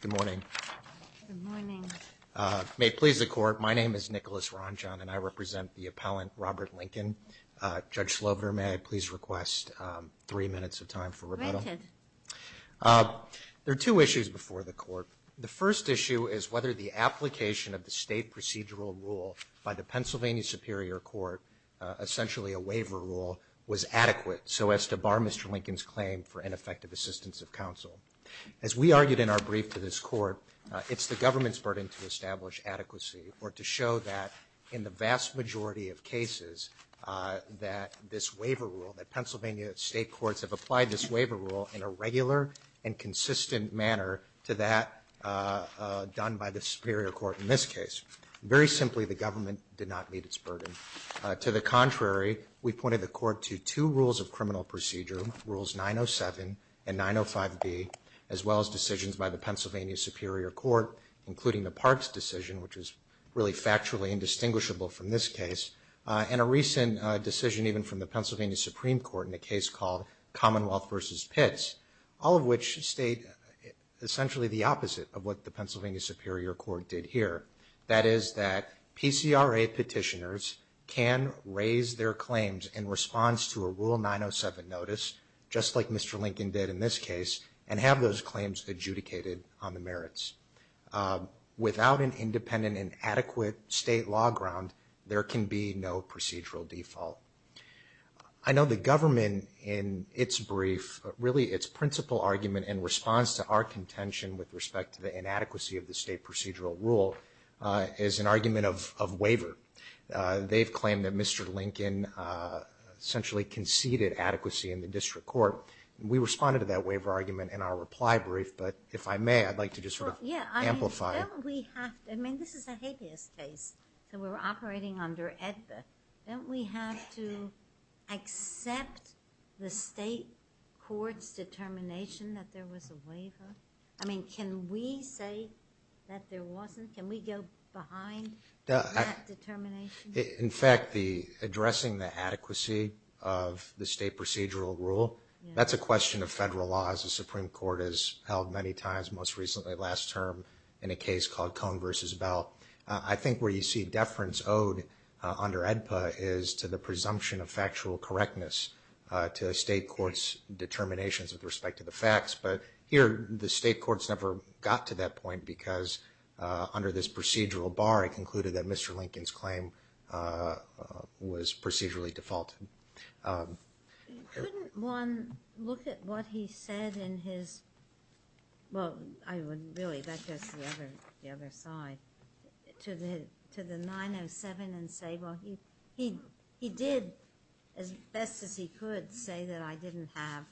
Good morning. May it please the Court, my name is Nicholas Ranjan and I represent the appellant Robert Lincoln. Judge Slover, may I please request three minutes of time for rebuttal. There are two issues before the court. The first issue is whether the application of the state procedural rule by the Pennsylvania Superior Court, essentially a waiver rule, was adequate so as to bar Mr. Lincoln's effective assistance of counsel. As we argued in our brief to this court, it's the government's burden to establish adequacy or to show that in the vast majority of cases that this waiver rule, that Pennsylvania state courts have applied this waiver rule in a regular and consistent manner to that done by the Superior Court in this case. Very simply, the government did not meet its burden. To the contrary, we pointed the court to two rules of criminal procedure, Rules 907 and 905B, as well as decisions by the Pennsylvania Superior Court, including the Parks decision, which is really factually indistinguishable from this case, and a recent decision even from the Pennsylvania Supreme Court in a case called Commonwealth v. Pitts, all of which state essentially the opposite of what the Pennsylvania Superior Court did here. That is that PCRA petitioners can raise their claims in response to a Rule 907 notice, just like Mr. Lincoln did in this case, and have those claims adjudicated on the merits. Without an independent and adequate state law ground, there can be no procedural default. I know the government in its brief, really its principal argument in response to our contention with respect to the inadequacy of the state claim that Mr. Lincoln essentially conceded adequacy in the district court. We responded to that waiver argument in our reply brief, but if I may, I'd like to just sort of amplify. I mean, this is a habeas case, so we're operating under AEDPA. Don't we have to accept the state court's determination that there was a waiver? I mean, can we say that there wasn't? Can we go behind that determination? In fact, the addressing the adequacy of the state procedural rule, that's a question of federal laws. The Supreme Court has held many times, most recently last term, in a case called Cohn v. Bell. I think where you see deference owed under AEDPA is to the presumption of factual correctness to state courts' determinations with respect to the facts, but here the state courts never got to that point because under this procedural bar, it concluded that Mr. Lincoln's was procedurally defaulted. Couldn't one look at what he said in his, well, I would really, that's just the other side, to the 907 and say, well, he did as best as he could say that I didn't have,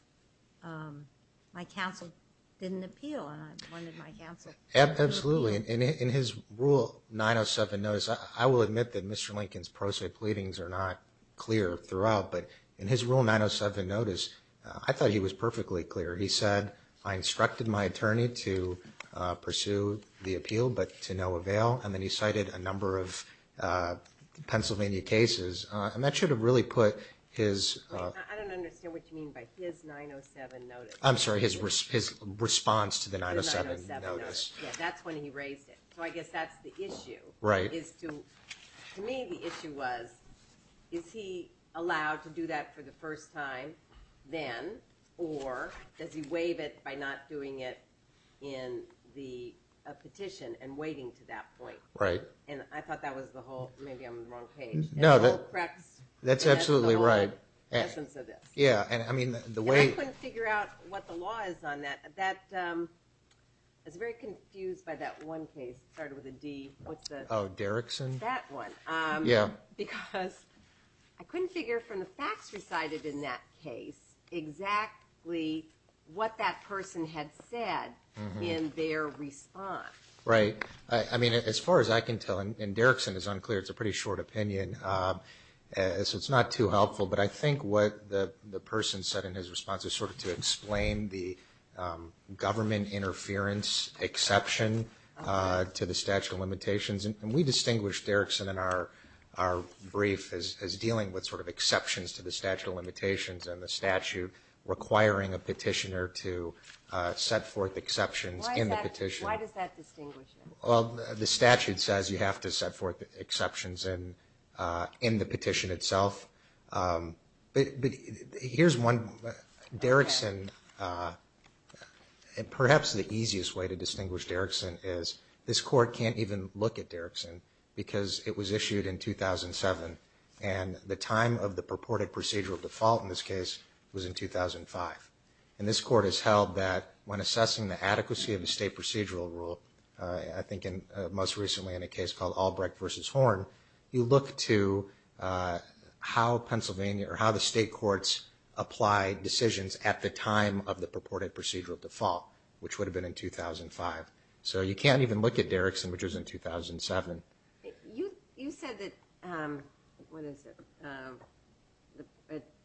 my counsel didn't appeal, and I wanted my counsel to appeal. Absolutely. In his rule 907 notice, I will admit that Mr. Lincoln's pro se pleadings are not clear throughout, but in his rule 907 notice, I thought he was perfectly clear. He said, I instructed my attorney to pursue the appeal, but to no avail, and then he cited a number of Pennsylvania cases, and that should have really put his, I'm sorry, his response to the 907 notice. That's when he raised it. So I guess that's the issue. Right. To me, the issue was, is he allowed to do that for the first time then, or does he waive it by not doing it in the petition and waiting to that point? Right. And I thought that was the whole, maybe I'm on the wrong page. No, that's absolutely right. Yeah, and I mean, the way. I couldn't figure out what the law is on that. I was very confused by that one case, started with a D. Oh, Derrickson? That one. Yeah. Because I couldn't figure from the facts recited in that case exactly what that person had said in their response. Right. I mean, as far as I can tell, and Derrickson is unclear, it's a pretty short opinion, so it's not too helpful, but I think what the person said in his response is sort of to explain the government interference exception to the statute of limitations, and we distinguished Derrickson in our brief as dealing with sort of exceptions to the statute of limitations and the statute requiring a petitioner to set forth exceptions in the petition. Why does that distinguish it? Well, the statute says you have to set forth exceptions in the petition. In the petition itself. But here's one, Derrickson, and perhaps the easiest way to distinguish Derrickson is this court can't even look at Derrickson because it was issued in 2007 and the time of the purported procedural default in this case was in 2005. And this court has held that when assessing the adequacy of the state procedural rule, I think most recently in a case called Albrecht v. Horn, you look to how Pennsylvania or how the state courts apply decisions at the time of the purported procedural default, which would have been in 2005. So you can't even look at Derrickson, which was in 2007. You said that, what is it,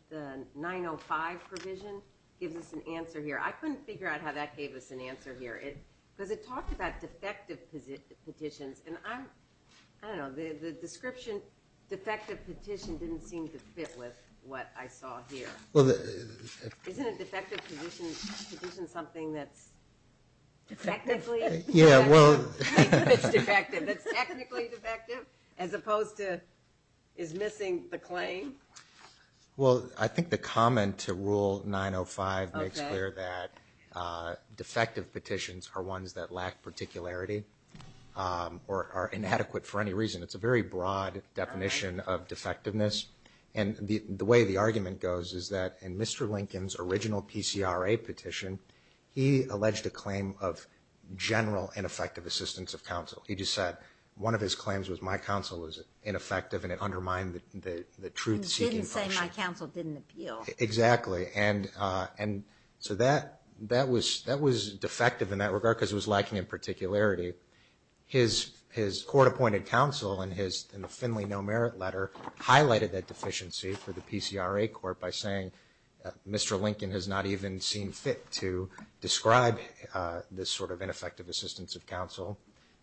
the 905 provision gives us an answer here. I couldn't figure out how that gave us an answer here. Because it talked about defective petitions, and I don't know, the description defective petition didn't seem to fit with what I saw here. Isn't a defective petition something that's technically defective as opposed to is missing the claim? Well, I think the comment to Rule 905 makes clear that defective petitions are ones that lack particularity or are inadequate for any reason. It's a very broad definition of defectiveness. And the way the argument goes is that in Mr. Lincoln's original PCRA petition, he alleged a claim of general ineffective assistance of counsel. He just said one of his claims was my counsel was ineffective and it undermined the truth-seeking function. He didn't say my counsel didn't appeal.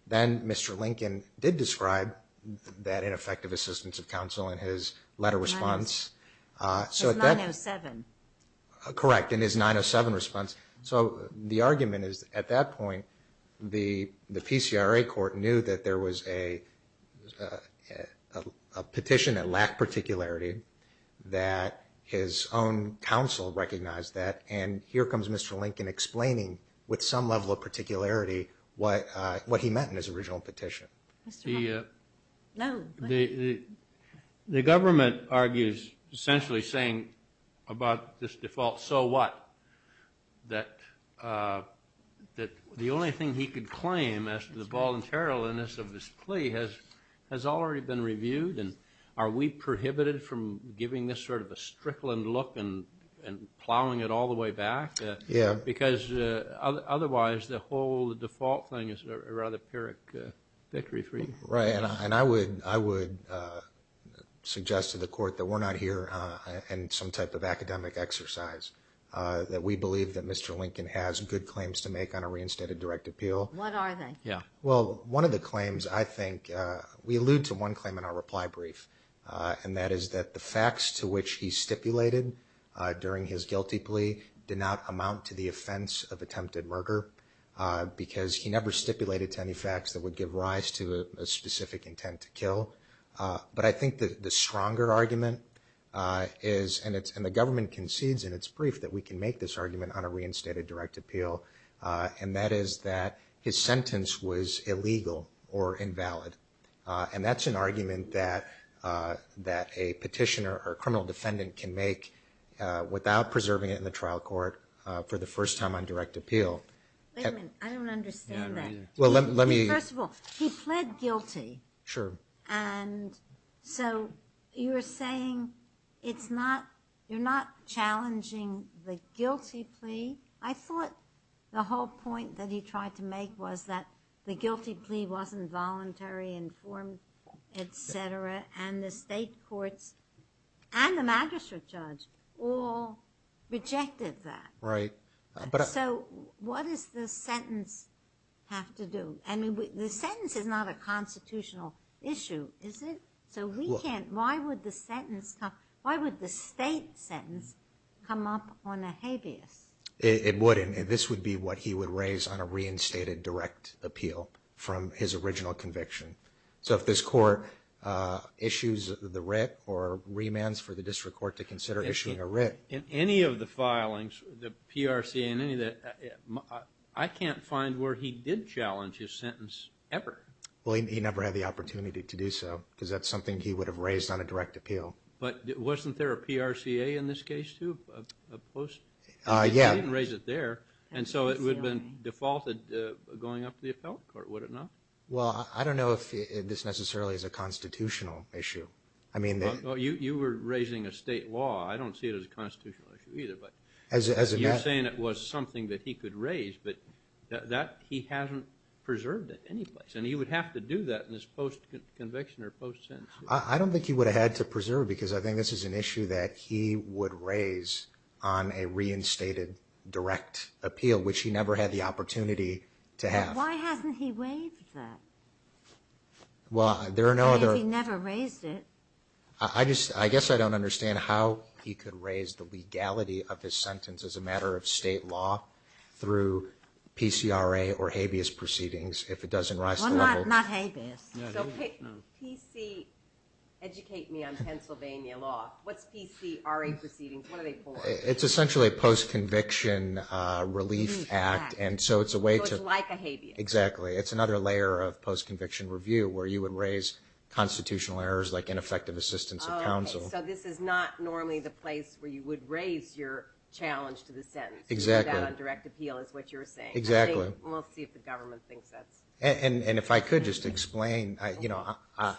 Then Mr. Lincoln did describe that ineffective assistance of counsel in his letter response. His 907. Correct, in his 907 response. So the argument is at that point, the PCRA court knew that there was a petition that lacked particularity, that his own counsel recognized that, and here comes Mr. Lincoln explaining with some level of particularity what he meant in his original petition. No, go ahead. The government argues essentially saying about this default, so what? That the only thing he could claim as to the voluntariliness of this plea has already been reviewed, and are we prohibited from giving this sort of a strickland look and plowing it all the way back? Yeah. Because otherwise, the whole default thing is a rather pyrrhic victory for you. Right, and I would suggest to the court that we're not here in some type of academic exercise, that we believe that Mr. Lincoln has good claims to make on a reinstated direct appeal. What are they? Well, one of the claims I think, we allude to one claim in our reply brief, and that is that the facts to which he stipulated during his guilty plea did not amount to the offense of attempted murder, because he never stipulated to any facts that would give rise to a specific intent to kill. But I think that the stronger argument is, and the government concedes in its brief that we can make this argument on a reinstated direct appeal, and that is that his sentence was illegal or invalid. And that's an argument that a petitioner or a criminal defendant can make without preserving it in the trial court for the first time on direct appeal. Wait a minute, I don't understand that. First of all, he pled guilty. Sure. And so you're saying it's not, you're not challenging the guilty plea? I thought the whole point that he tried to make was that the guilty plea wasn't voluntary, informed, etc., and the state courts and the magistrate judge all rejected that. Right. So what does the sentence have to do? I mean, the sentence is not a constitutional issue, is it? So we can't, why would the sentence, why would the state sentence come up on a habeas? It wouldn't. This would be what he would raise on a reinstated direct appeal from his original conviction. So if this court issues the writ or remands for the district court to consider issuing a writ. In any of the filings, the PRCA and any of that, I can't find where he did challenge his sentence ever. Well, he never had the opportunity to do so because that's something he would have raised on a direct appeal. But wasn't there a PRCA in this case, too, a post? Yeah. He didn't raise it there, and so it would have been defaulted going up to the appellate court, would it not? Well, I don't know if this necessarily is a constitutional issue. You were raising a state law. I don't see it as a constitutional issue either, but you're saying it was something that he could raise, but that he hasn't preserved at any place, and he would have to do that in his post-conviction or post-sentence. I don't think he would have had to preserve it because I think this is an issue that he would raise on a reinstated direct appeal, which he never had the opportunity to have. Why hasn't he waived that? Well, there are no other- Because he never raised it. I guess I don't understand how he could raise the legality of his sentence as a matter of state law through PCRA or habeas proceedings if it doesn't rise to the level- Well, not habeas. So educate me on Pennsylvania law. What's PCRA proceedings? What are they for? It's essentially a post-conviction relief act, and so it's a way to- So it's like a habeas. Exactly. It's another layer of post-conviction review where you would raise constitutional errors like ineffective assistance of counsel. Oh, okay. So this is not normally the place where you would raise your challenge to the sentence. Exactly. Do that on direct appeal is what you're saying. Exactly. We'll see if the government thinks that's- And if I could just explain, I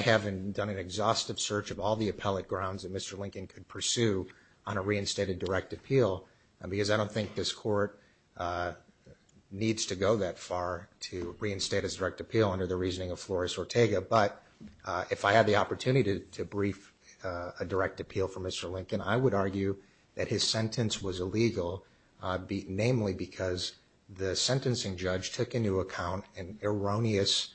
haven't done an exhaustive search of all the appellate grounds that Mr. Lincoln could pursue on a reinstated direct appeal because I don't think this court needs to go that far to reinstate his direct appeal under the reasoning of Flores Ortega. But if I had the opportunity to brief a direct appeal for Mr. Lincoln, I would argue that his sentence was illegal, namely because the sentencing judge took into account an erroneous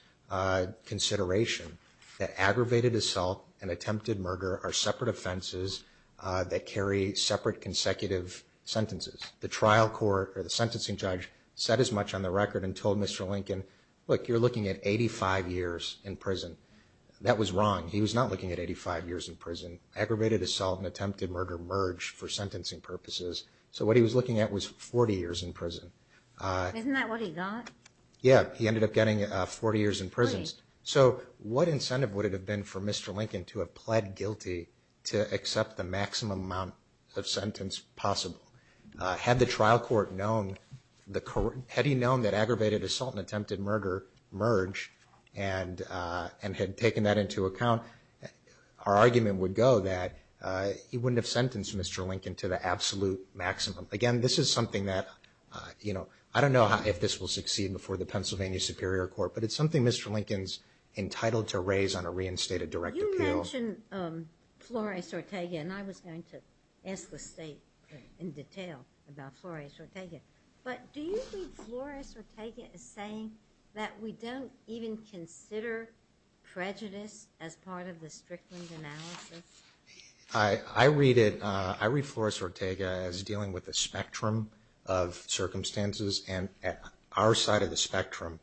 consideration that aggravated assault and attempted murder are separate offenses that carry separate consecutive sentences. The trial court or the sentencing judge said as much on the record and told Mr. Lincoln, look, you're looking at 85 years in prison. That was wrong. He was not looking at 85 years in prison. Aggravated assault and attempted murder merge for sentencing purposes. So what he was looking at was 40 years in prison. Isn't that what he got? Yeah. He ended up getting 40 years in prison. So what incentive would it have been for Mr. Lincoln to have pled guilty to accept the maximum amount of sentence possible? Had the trial court known that aggravated assault and attempted murder merge and had taken that into account, our argument would go that he wouldn't have sentenced Mr. Lincoln to the absolute maximum. Again, this is something that, you know, I don't know if this will succeed before the Pennsylvania Superior Court, but it's something Mr. Lincoln's entitled to raise on a reinstated direct appeal. You mentioned Flores-Ortega, and I was going to ask the State in detail about Flores-Ortega, but do you think Flores-Ortega is saying that we don't even consider prejudice as part of the Strickland analysis? I read Flores-Ortega as dealing with a spectrum of circumstances, and our side of the spectrum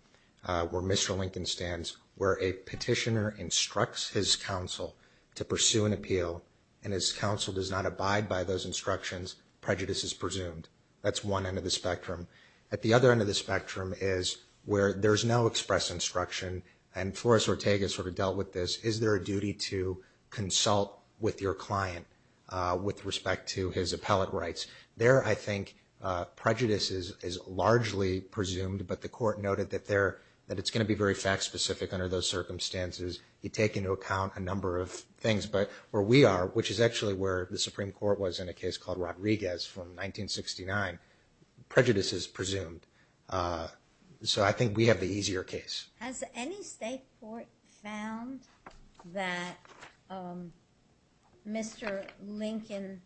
where Mr. Lincoln stands, where a petitioner instructs his counsel to pursue an appeal and his counsel does not abide by those instructions, prejudice is presumed. That's one end of the spectrum. At the other end of the spectrum is where there's no express instruction, and Flores-Ortega sort of dealt with this. Is there a duty to consult with your client with respect to his appellate rights? There, I think, prejudice is largely presumed, but the Court noted that it's going to be very fact-specific under those circumstances. You take into account a number of things, but where we are, which is actually where the Supreme Court was in a case called Rodriguez from 1969, prejudice is presumed. So I think we have the easier case. Has any state court found that Mr. Lincoln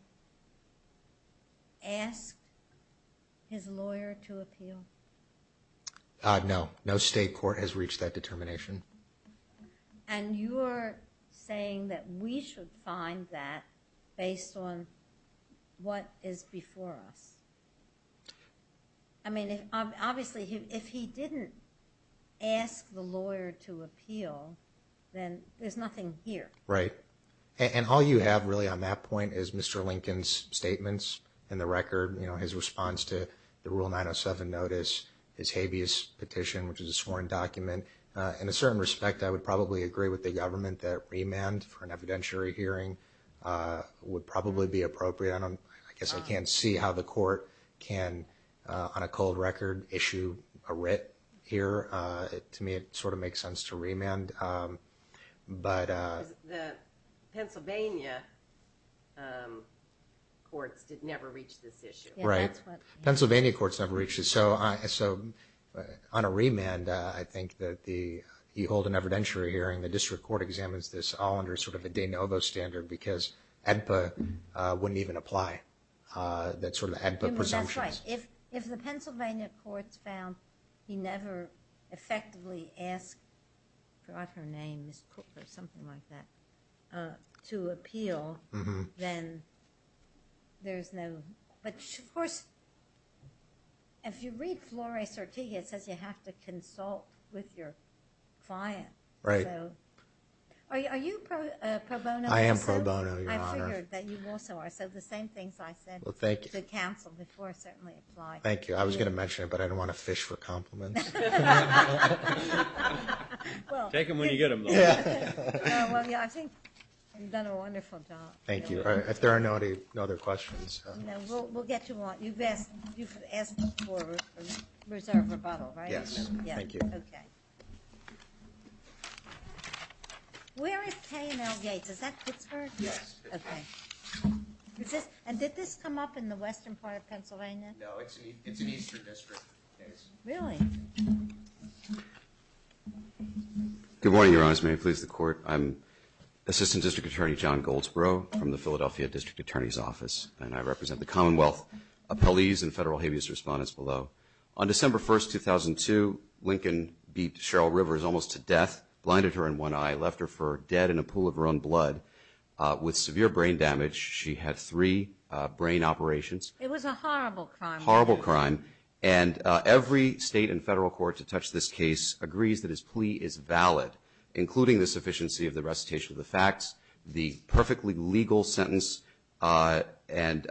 asked his lawyer to appeal? No, no state court has reached that determination. And you're saying that we should find that based on what is before us? I mean, obviously, if he didn't ask the lawyer to appeal, then there's nothing here. Right. And all you have, really, on that point is Mr. Lincoln's statements in the record, his response to the Rule 907 notice, his habeas petition, which is a sworn document. In a certain respect, I would probably agree with the government that remand for an evidentiary hearing would probably be appropriate. I guess I can't see how the Court can, on a cold record, issue a writ here. To me, it sort of makes sense to remand. The Pennsylvania courts did never reach this issue. Right. Pennsylvania courts never reached it. So on a remand, I think that you hold an evidentiary hearing. The district court examines this all under sort of a de novo standard because ADPA wouldn't even apply. That's sort of the ADPA presumptions. That's right. If the Pennsylvania courts found he never effectively asked for her name, Ms. Cook or something like that, to appeal, then there's no. But, of course, if you read Flore Sertigia, it says you have to consult with your client. Right. Are you pro bono? I am pro bono, Your Honor. I figured that you also are. So the same things I said to counsel before certainly apply. Thank you. I was going to mention it, but I didn't want to fish for compliments. Take them when you get them. Well, yeah, I think you've done a wonderful job. Thank you. If there are no other questions. No, we'll get to them. You've asked for reserve rebuttal, right? Yes. Thank you. Okay. Where is K and L Gates? Is that Pittsburgh? Yes. Okay. And did this come up in the western part of Pennsylvania? No, it's an eastern district case. Really? Good morning, Your Honor. As many of you please the court. I'm Assistant District Attorney John Goldsboro from the Philadelphia District Attorney's Office, and I represent the Commonwealth appellees and federal habeas respondents below. On December 1, 2002, Lincoln beat Cheryl Rivers almost to death, blinded her in one eye, left her for dead in a pool of her own blood. With severe brain damage, she had three brain operations. It was a horrible crime. Horrible crime. And every state and federal court to touch this case agrees that his plea is valid, including the sufficiency of the recitation of the facts, the perfectly legal sentence, and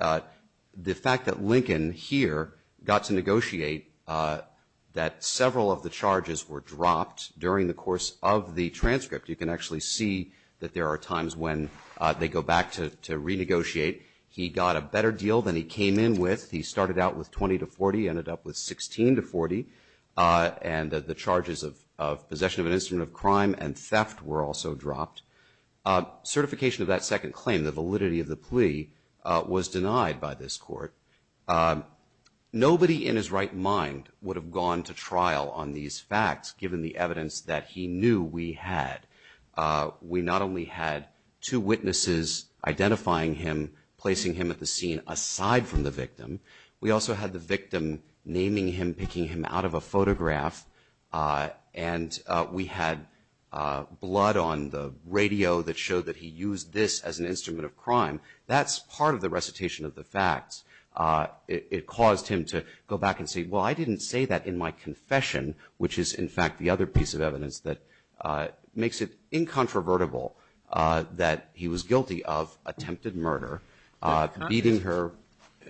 the fact that Lincoln here got to negotiate that several of the charges were dropped during the course of the transcript. You can actually see that there are times when they go back to renegotiate. He got a better deal than he came in with. He started out with 20 to 40, ended up with 16 to 40, and the charges of possession of an instrument of crime and theft were also dropped. Certification of that second claim, the validity of the plea, was denied by this court. Nobody in his right mind would have gone to trial on these facts given the evidence that he knew we had. We not only had two witnesses identifying him, placing him at the scene aside from the victim, we also had the victim naming him, picking him out of a photograph, and we had blood on the radio that showed that he used this as an instrument of crime. That's part of the recitation of the facts. It caused him to go back and say, well, I didn't say that in my confession, which is, in fact, the other piece of evidence that makes it incontrovertible that he was guilty of attempted murder, beating her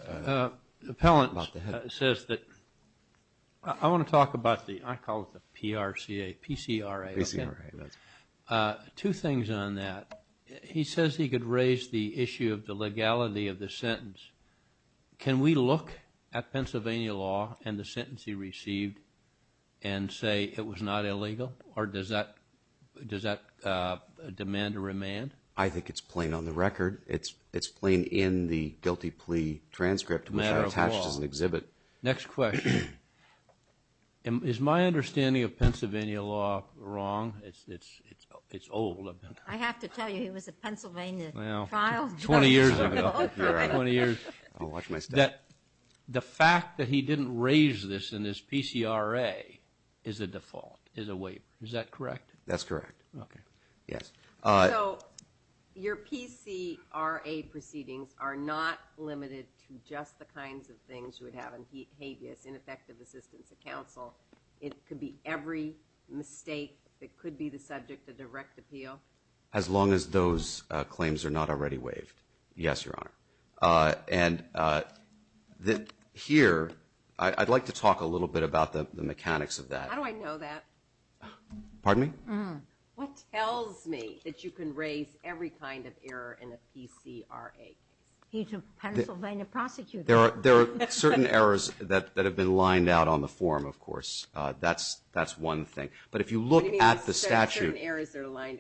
about the head. The appellant says that, I want to talk about the, I call it the PRCA, PCRA. Two things on that. He says he could raise the issue of the legality of the sentence. Can we look at Pennsylvania law and the sentence he received and say it was not illegal, or does that demand a remand? I think it's plain on the record. It's plain in the guilty plea transcript, which I attached as an exhibit. Next question. Is my understanding of Pennsylvania law wrong? It's old. I have to tell you he was a Pennsylvania trial judge. Twenty years ago. Twenty years. I'll watch my step. The fact that he didn't raise this in his PCRA is a default, is a waiver. Is that correct? That's correct. Okay. Yes. So your PCRA proceedings are not limited to just the kinds of things you would have in habeas, ineffective assistance of counsel. It could be every mistake that could be the subject of direct appeal? As long as those claims are not already waived. Yes, Your Honor. And here, I'd like to talk a little bit about the mechanics of that. How do I know that? Pardon me? What tells me that you can raise every kind of error in a PCRA case? He's a Pennsylvania prosecutor. There are certain errors that have been lined out on the form, of course. That's one thing. But if you look at the statute.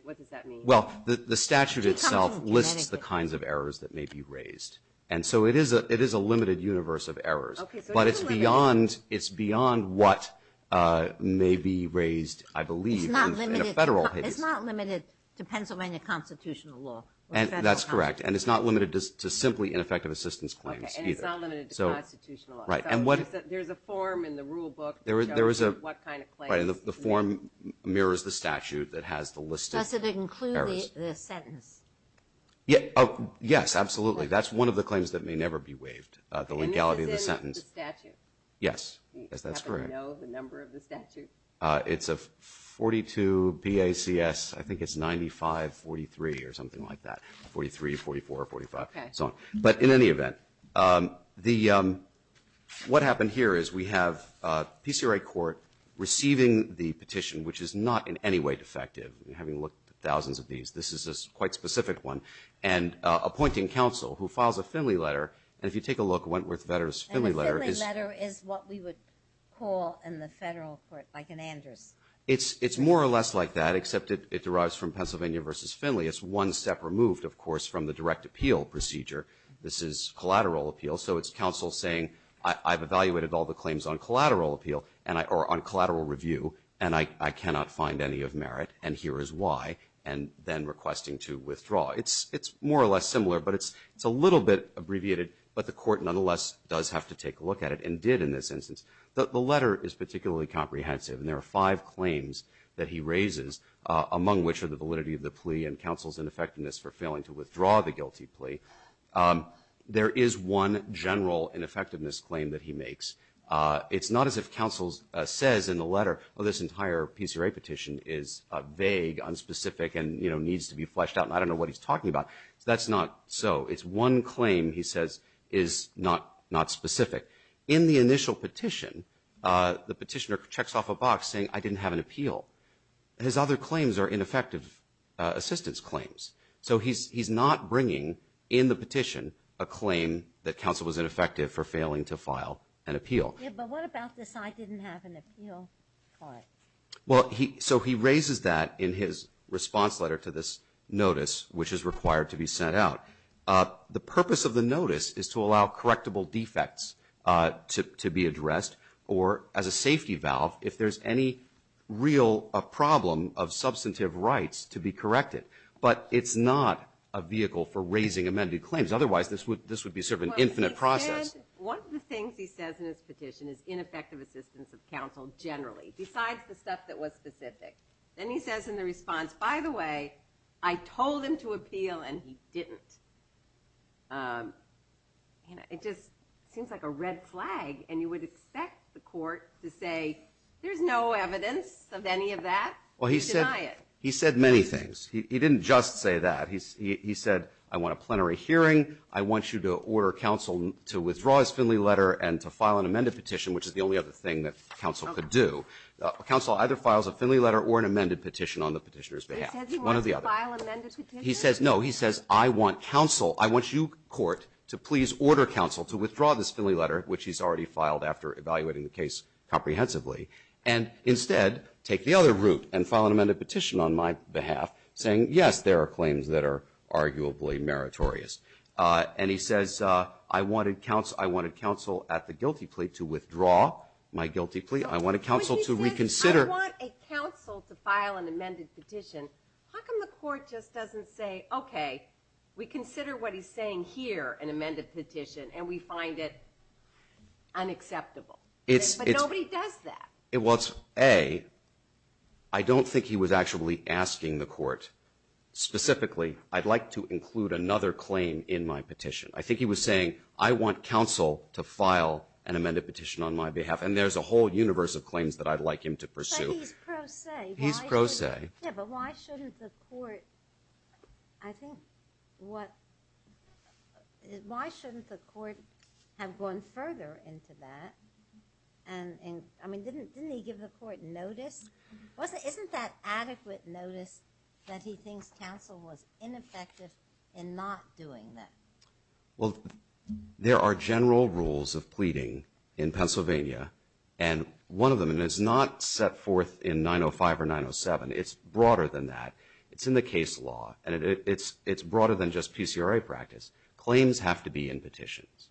What does that mean? Well, the statute itself lists the kinds of errors that may be raised. And so it is a limited universe of errors. But it's beyond what may be raised, I believe. It's not limited to Pennsylvania constitutional law. That's correct. And it's not limited to simply ineffective assistance claims either. Okay. And it's not limited to constitutional law. Right. There's a form in the rule book that shows you what kind of claims. Right. And the form mirrors the statute that has the list of errors. Does it include the sentence? Yes, absolutely. That's one of the claims that may never be waived, the legality of the sentence. And this is in the statute? Yes. That's correct. Do you happen to know the number of the statute? It's a 42 PACS. I think it's 9543 or something like that. 43, 44, 45. Okay. But in any event, what happened here is we have PCRA court receiving the petition, which is not in any way defective, having looked at thousands of these. This is a quite specific one. And appointing counsel who files a Finley letter. And if you take a look, Wentworth Vedder's Finley letter. The Finley letter is what we would call in the federal court, like an Anders. It's more or less like that, except it derives from Pennsylvania v. Finley. It's one step removed, of course, from the direct appeal procedure. This is collateral appeal. So it's counsel saying, I've evaluated all the claims on collateral appeal, or on collateral review, and I cannot find any of merit, and here is why, and then requesting to withdraw. It's more or less similar, but it's a little bit abbreviated, but the court nonetheless does have to take a look at it, and did in this instance. The letter is particularly comprehensive, and there are five claims that he raises, among which are the validity of the plea and counsel's ineffectiveness for failing to withdraw the guilty plea. There is one general ineffectiveness claim that he makes. It's not as if counsel says in the letter, oh, this entire PCRA petition is vague, unspecific, and, you know, needs to be fleshed out, and I don't know what he's talking about. That's not so. It's one claim he says is not specific. In the initial petition, the petitioner checks off a box saying, I didn't have an appeal. His other claims are ineffective assistance claims. So he's not bringing in the petition a claim that counsel was ineffective for failing to file an appeal. Yeah, but what about this, I didn't have an appeal? Well, so he raises that in his response letter to this notice, which is required to be sent out. The purpose of the notice is to allow correctable defects to be addressed, or as a safety valve if there's any real problem of substantive rights to be corrected. But it's not a vehicle for raising amended claims. Otherwise, this would be sort of an infinite process. And one of the things he says in his petition is ineffective assistance of counsel generally, besides the stuff that was specific. Then he says in the response, by the way, I told him to appeal, and he didn't. It just seems like a red flag, and you would expect the court to say, there's no evidence of any of that. Well, he said many things. He didn't just say that. He said, I want a plenary hearing. I want you to order counsel to withdraw his Finley letter and to file an amended petition, which is the only other thing that counsel could do. Counsel either files a Finley letter or an amended petition on the petitioner's behalf. One or the other. He says, no, he says, I want counsel, I want you, court, to please order counsel to withdraw this Finley letter, which he's already filed after evaluating the case comprehensively, and instead take the other route and file an amended petition on my behalf, saying, yes, there are claims that are arguably meritorious. And he says, I wanted counsel at the guilty plea to withdraw my guilty plea. I wanted counsel to reconsider. When he says, I want a counsel to file an amended petition, how come the court just doesn't say, okay, we consider what he's saying here, an amended petition, and we find it unacceptable? But nobody does that. Well, it's, A, I don't think he was actually asking the court. Specifically, I'd like to include another claim in my petition. I think he was saying, I want counsel to file an amended petition on my behalf, and there's a whole universe of claims that I'd like him to pursue. But he's pro se. He's pro se. Yeah, but why shouldn't the court, I think, what, why shouldn't the court have gone further into that? And, I mean, didn't he give the court notice? Wasn't, isn't that adequate notice that he thinks counsel was ineffective in not doing that? Well, there are general rules of pleading in Pennsylvania, and one of them, and it's not set forth in 905 or 907. It's broader than that. It's in the case law, and it's broader than just PCRA practice. Claims have to be in petitions.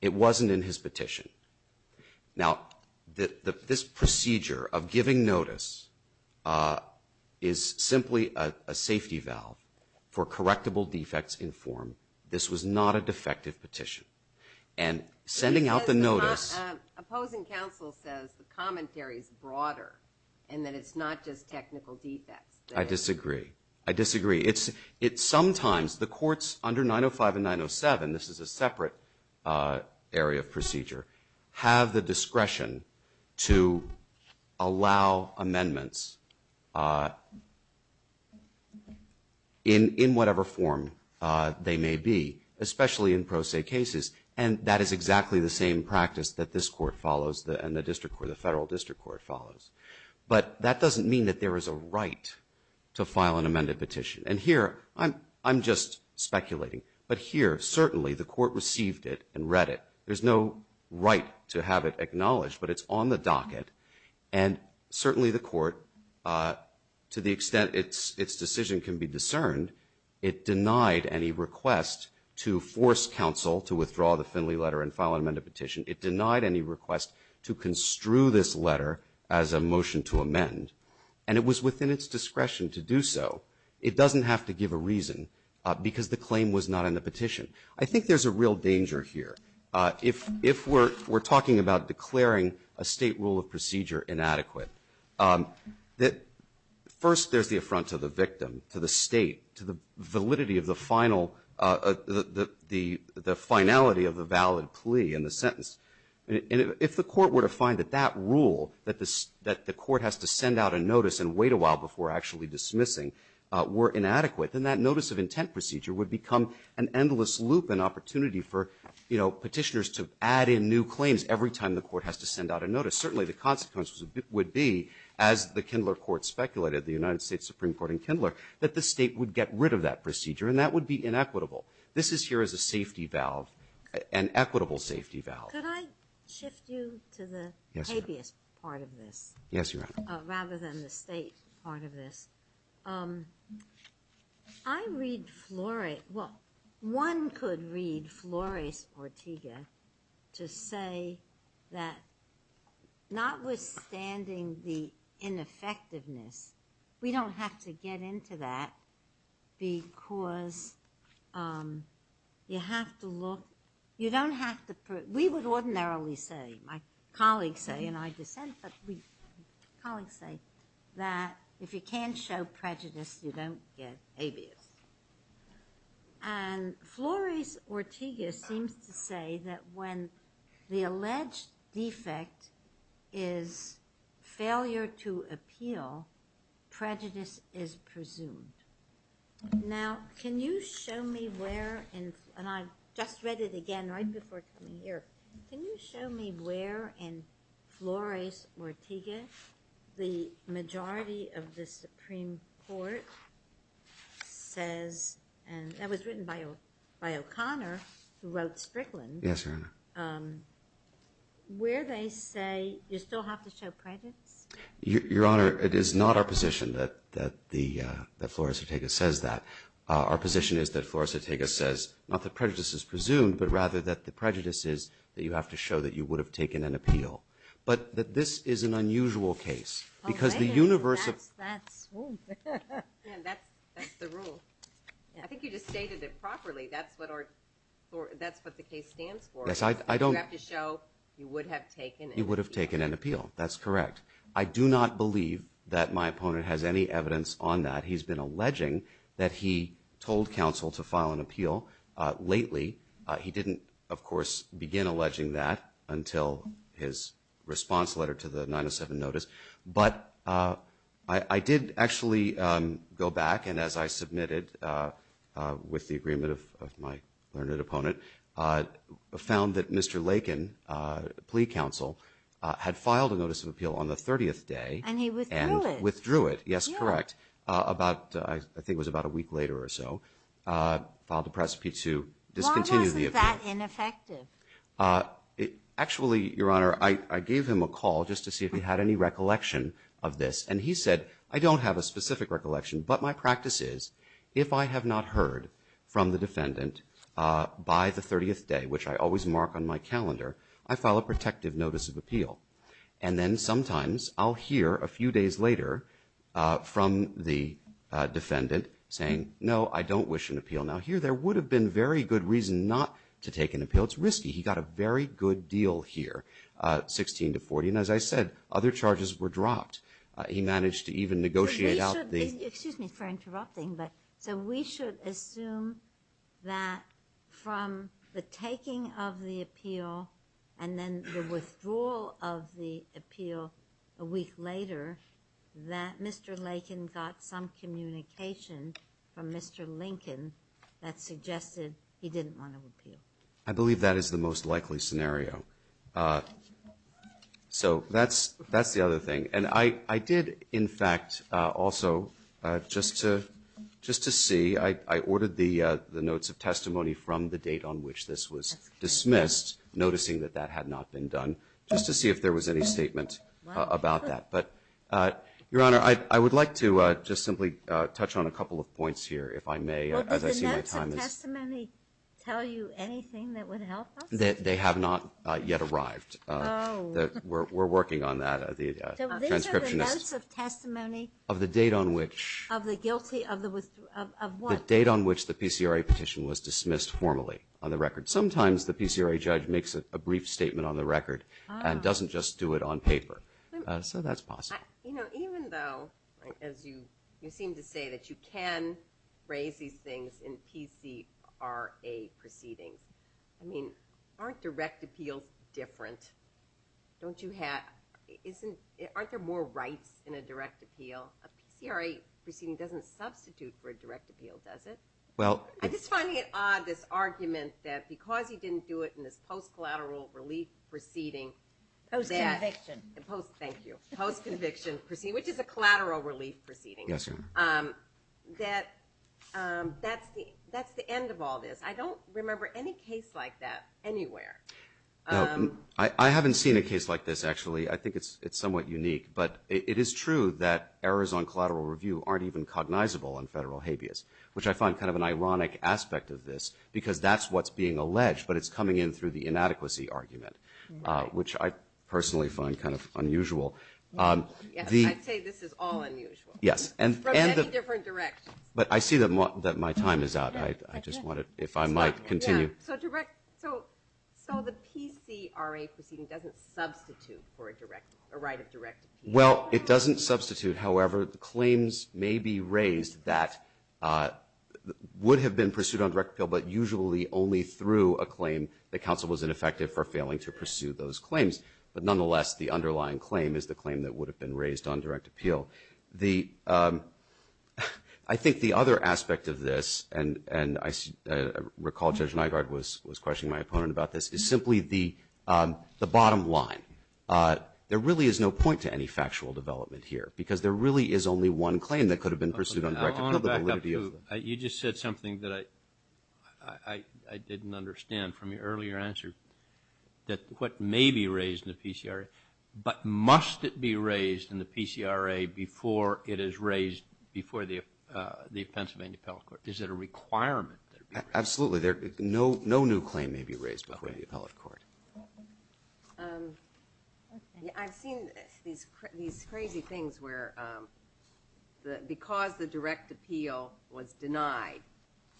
It wasn't in his petition. Now, this procedure of giving notice is simply a safety valve for correctable defects in form. This was not a defective petition. And sending out the notice. Opposing counsel says the commentary is broader and that it's not just technical defects. I disagree. I disagree. It's sometimes, the courts under 905 and 907, this is a separate area of law, have the discretion to allow amendments in whatever form they may be, especially in pro se cases. And that is exactly the same practice that this court follows and the district court, the federal district court follows. But that doesn't mean that there is a right to file an amended petition. And here, I'm just speculating. But here, certainly, the court received it and read it. There's no right to have it acknowledged, but it's on the docket. And certainly, the court, to the extent its decision can be discerned, it denied any request to force counsel to withdraw the Finley letter and file an amended petition. It denied any request to construe this letter as a motion to amend. And it was within its discretion to do so. It doesn't have to give a reason because the claim was not in the petition. I think there's a real danger here. If we're talking about declaring a State rule of procedure inadequate, that first there's the affront to the victim, to the State, to the validity of the final, the finality of the valid plea in the sentence. If the court were to find that that rule, that the court has to send out a notice and wait a while before actually dismissing, were inadequate, then that notice of intent procedure would become an endless loop, an opportunity for petitioners to add in new claims every time the court has to send out a notice. Certainly, the consequences would be, as the Kindler Court speculated, the United States Supreme Court and Kindler, that the State would get rid of that procedure and that would be inequitable. This is here as a safety valve, an equitable safety valve. Could I shift you to the habeas part of this? Yes, Your Honor. Rather than the State part of this, I read Flores, well, one could read Flores Ortega to say that notwithstanding the ineffectiveness, we don't have to get into that because you have to look, you don't have to, we would ordinarily say, my colleagues say, and I dissent, but colleagues say, that if you can't show prejudice, you don't get habeas. And Flores Ortega seems to say that when the alleged defect is failure to appeal, prejudice is presumed. Now, can you show me where, and I just read it again right before coming here, can you show me where in Flores Ortega the majority of the Supreme Court says, and that was written by O'Connor who wrote Strickland, where they say you still have to show prejudice? Your Honor, it is not our position that Flores Ortega says that. Our position is that Flores Ortega says not that prejudice is presumed, but rather that the prejudice is that you have to show that you would have taken an appeal. But this is an unusual case. Because the universe of... That's the rule. I think you just stated it properly, that's what the case stands for. You have to show you would have taken an appeal. You would have taken an appeal. That's correct. I do not believe that my opponent has any evidence on that. He's been alleging that he told counsel to file an appeal lately. He didn't, of course, begin alleging that until his response letter to the 907 notice. But I did actually go back, and as I submitted with the agreement of my learned opponent, found that Mr. Lakin, plea counsel, had filed a notice of appeal on the 30th day. And he withdrew it. Withdrew it, yes, correct. I think it was about a week later or so. Why was it that ineffective? Actually, Your Honor, I gave him a call just to see if he had any recollection of this. And he said, I don't have a specific recollection, but my practice is, if I have not heard from the defendant by the 30th day, which I always mark on my calendar, I file a protective notice of appeal. And then sometimes I'll hear a few days later from the defendant saying, no, I don't wish an appeal. Now, here, there would have been very good reason not to take an appeal. It's risky. He got a very good deal here, 16 to 40. And as I said, other charges were dropped. He managed to even negotiate out the ---- But we should, excuse me for interrupting, but so we should assume that from the taking of the appeal and then the withdrawal of the appeal a week later, that Mr. Lincoln, that suggested he didn't want an appeal. I believe that is the most likely scenario. So that's the other thing. And I did, in fact, also, just to see, I ordered the notes of testimony from the date on which this was dismissed, noticing that that had not been done, just to see if there was any statement about that. But, Your Honor, I would like to just simply touch on a couple of points here, if I may, as I see my time is ---- Well, did the notes of testimony tell you anything that would help us? They have not yet arrived. Oh. We're working on that. The transcriptionist ---- So these are the notes of testimony of the guilty of what? The date on which the PCRA petition was dismissed formally on the record. Sometimes the PCRA judge makes a brief statement on the record and doesn't just do it on paper. So that's possible. You know, even though, as you seem to say, that you can raise these things in PCRA proceedings, I mean, aren't direct appeals different? Don't you have ---- Aren't there more rights in a direct appeal? A PCRA proceeding doesn't substitute for a direct appeal, does it? I'm just finding it odd, this argument that because he didn't do it in this post-collateral relief proceeding that ---- Post-conviction. Thank you. Post-conviction, which is a collateral relief proceeding. Yes, Your Honor. That that's the end of all this. I don't remember any case like that anywhere. I haven't seen a case like this, actually. I think it's somewhat unique. But it is true that errors on collateral review aren't even cognizable on federal habeas, which I find kind of an ironic aspect of this because that's not what's being alleged, but it's coming in through the inadequacy argument, which I personally find kind of unusual. Yes. I'd say this is all unusual. Yes. From many different directions. But I see that my time is out. I just wanted, if I might, continue. So direct ---- So the PCRA proceeding doesn't substitute for a direct ---- a right of direct appeal? However, the claims may be raised that would have been pursued on direct appeal only through a claim that counsel was ineffective for failing to pursue those claims. But nonetheless, the underlying claim is the claim that would have been raised on direct appeal. The ---- I think the other aspect of this, and I recall Judge Nygaard was questioning my opponent about this, is simply the bottom line. There really is no point to any factual development here because there really is only one claim that could have been pursued on direct appeal. You just said something that I didn't understand from your earlier answer, that what may be raised in the PCRA, but must it be raised in the PCRA before it is raised before the Pennsylvania Appellate Court? Is it a requirement that it be raised? Absolutely. No new claim may be raised before the Appellate Court. I've seen these crazy things where because the direct appeal was denied,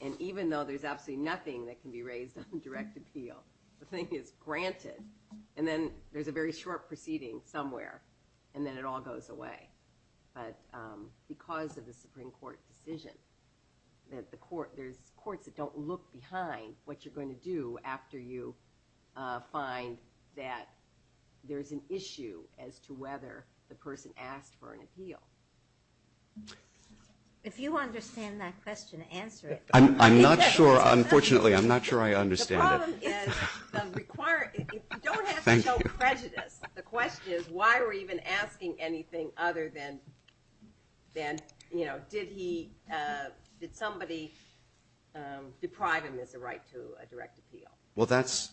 and even though there's absolutely nothing that can be raised on direct appeal, the thing is granted, and then there's a very short proceeding somewhere, and then it all goes away. But because of the Supreme Court decision, there's courts that don't look behind what you're going to do after you find that there's an issue as to whether the person asked for an appeal. If you understand that question, answer it. I'm not sure. Unfortunately, I'm not sure I understand it. The problem is you don't have to show prejudice. The question is why are we even asking anything other than, you know, did somebody deprive him as a right to a direct appeal? Well, that's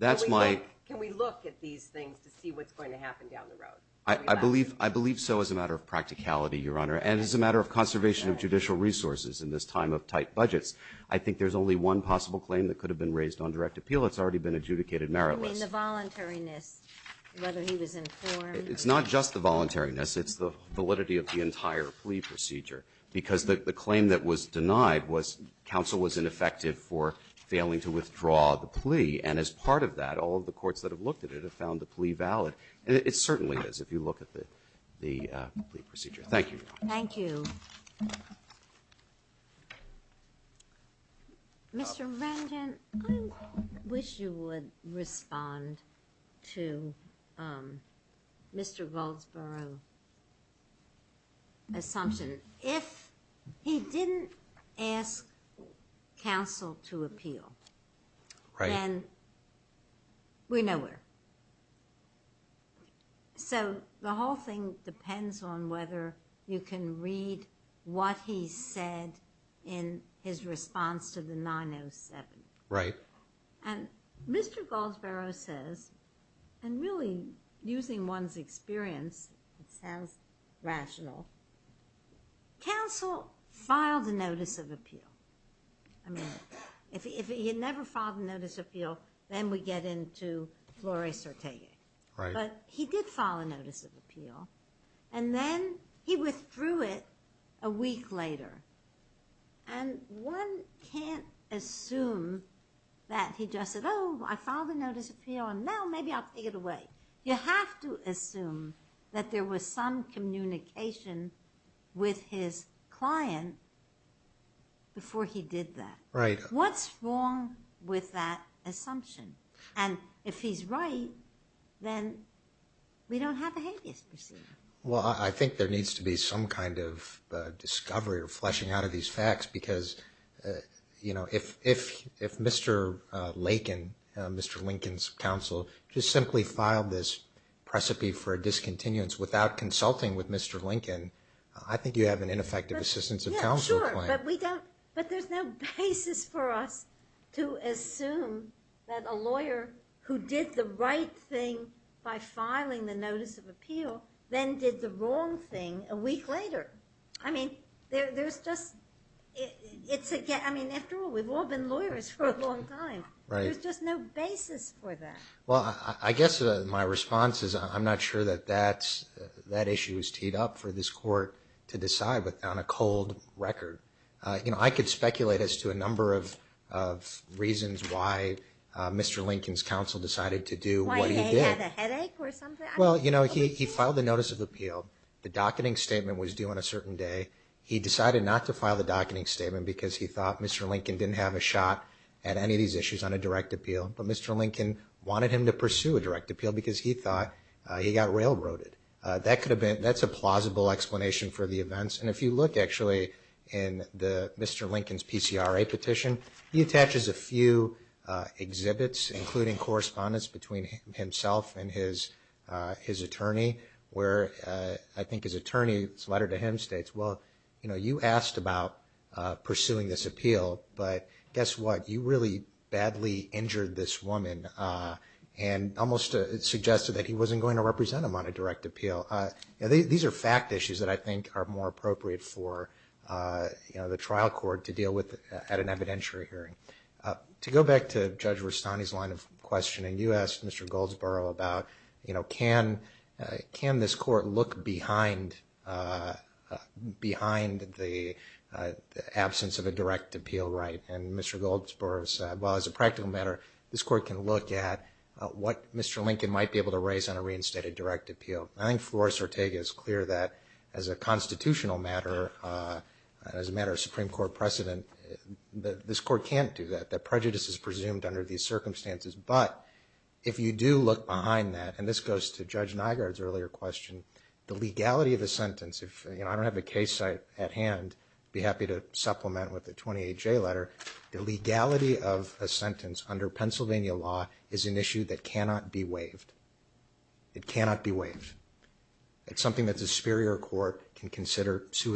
my question. Can we look at these things to see what's going to happen down the road? I believe so as a matter of practicality, Your Honor, and as a matter of conservation of judicial resources in this time of tight budgets. I think there's only one possible claim that could have been raised on direct appeal that's already been adjudicated meritless. You mean the voluntariness, whether he was informed? It's not just the voluntariness. It's the validity of the entire plea procedure. Because the claim that was denied was counsel was ineffective for failing to withdraw the plea. And as part of that, all of the courts that have looked at it have found the plea valid. And it certainly is if you look at the plea procedure. Thank you, Your Honor. Thank you. Mr. Remgen, I wish you would respond to Mr. Goldsboro's assumption. If he didn't ask counsel to appeal, then we're nowhere. So the whole thing depends on whether you can read what he said in his response to the 907. Right. And Mr. Goldsboro says, and really using one's experience, it sounds rational, counsel filed a notice of appeal. I mean, if he had never filed a notice of appeal, then we get into Flory Sertagic. Right. But he did file a notice of appeal. And then he withdrew it a week later. And one can't assume that he just said, oh, I filed a notice of appeal, and now maybe I'll take it away. You have to assume that there was some communication with his client before he did that. Right. What's wrong with that assumption? And if he's right, then we don't have a habeas procedure. Well, I think there needs to be some kind of discovery or fleshing out of these facts. Because, you know, if Mr. Lakin, Mr. Lincoln's counsel, just simply filed this precipice for a discontinuance without consulting with Mr. Lincoln's counsel. Sure. But we don't. But there's no basis for us to assume that a lawyer who did the right thing by filing the notice of appeal then did the wrong thing a week later. I mean, there's just, it's, I mean, after all, we've all been lawyers for a long time. Right. There's just no basis for that. Well, I guess my response is I'm not sure that that issue is teed up for this court to decide on a cold record. You know, I could speculate as to a number of reasons why Mr. Lincoln's counsel decided to do what he did. Why, did he have a headache or something? Well, you know, he filed the notice of appeal. The docketing statement was due on a certain day. He decided not to file the docketing statement because he thought Mr. Lincoln didn't have a shot at any of these issues on a direct appeal. But Mr. Lincoln wanted him to pursue a direct appeal because he thought he got railroaded. That could have been, that's a plausible explanation for the events. And if you look, actually, in Mr. Lincoln's PCRA petition, he attaches a few exhibits, including correspondence between himself and his attorney, where I think his attorney's letter to him states, well, you know, you asked about pursuing this appeal, but guess what? You really badly injured this woman and almost suggested that he wasn't going to represent him on a direct appeal. These are fact issues that I think are more appropriate for, you know, the trial court to deal with at an evidentiary hearing. To go back to Judge Rustani's line of questioning, you asked Mr. Goldsboro about, you know, can this court look behind the absence of a direct appeal right? And Mr. Goldsboro said, well, as a practical matter, this court can look at what Mr. Lincoln might be able to raise on a reinstated direct appeal. I think Flores-Ortega is clear that as a constitutional matter, as a matter of Supreme Court precedent, this court can't do that. That prejudice is presumed under these circumstances. But if you do look behind that, and this goes to Judge Nygaard's earlier question, the legality of the sentence, you know, I don't have a case at hand, be happy to supplement with the 28J letter, the legality of a It cannot be waived. It's something that the superior court can consider in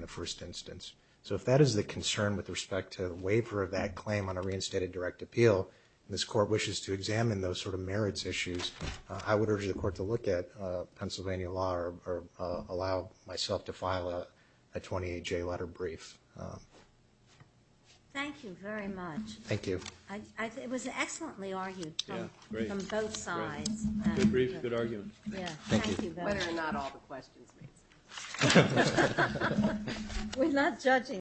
the first instance. So if that is the concern with respect to the waiver of that claim on a reinstated direct appeal, and this court wishes to examine those sort of merits issues, I would urge the court to look at Pennsylvania law or allow myself to file a 28J letter brief. Thank you very much. Thank you. It was excellently argued from both sides. Good arguments. Thank you. Whether or not all the questions made sense. We're not judging.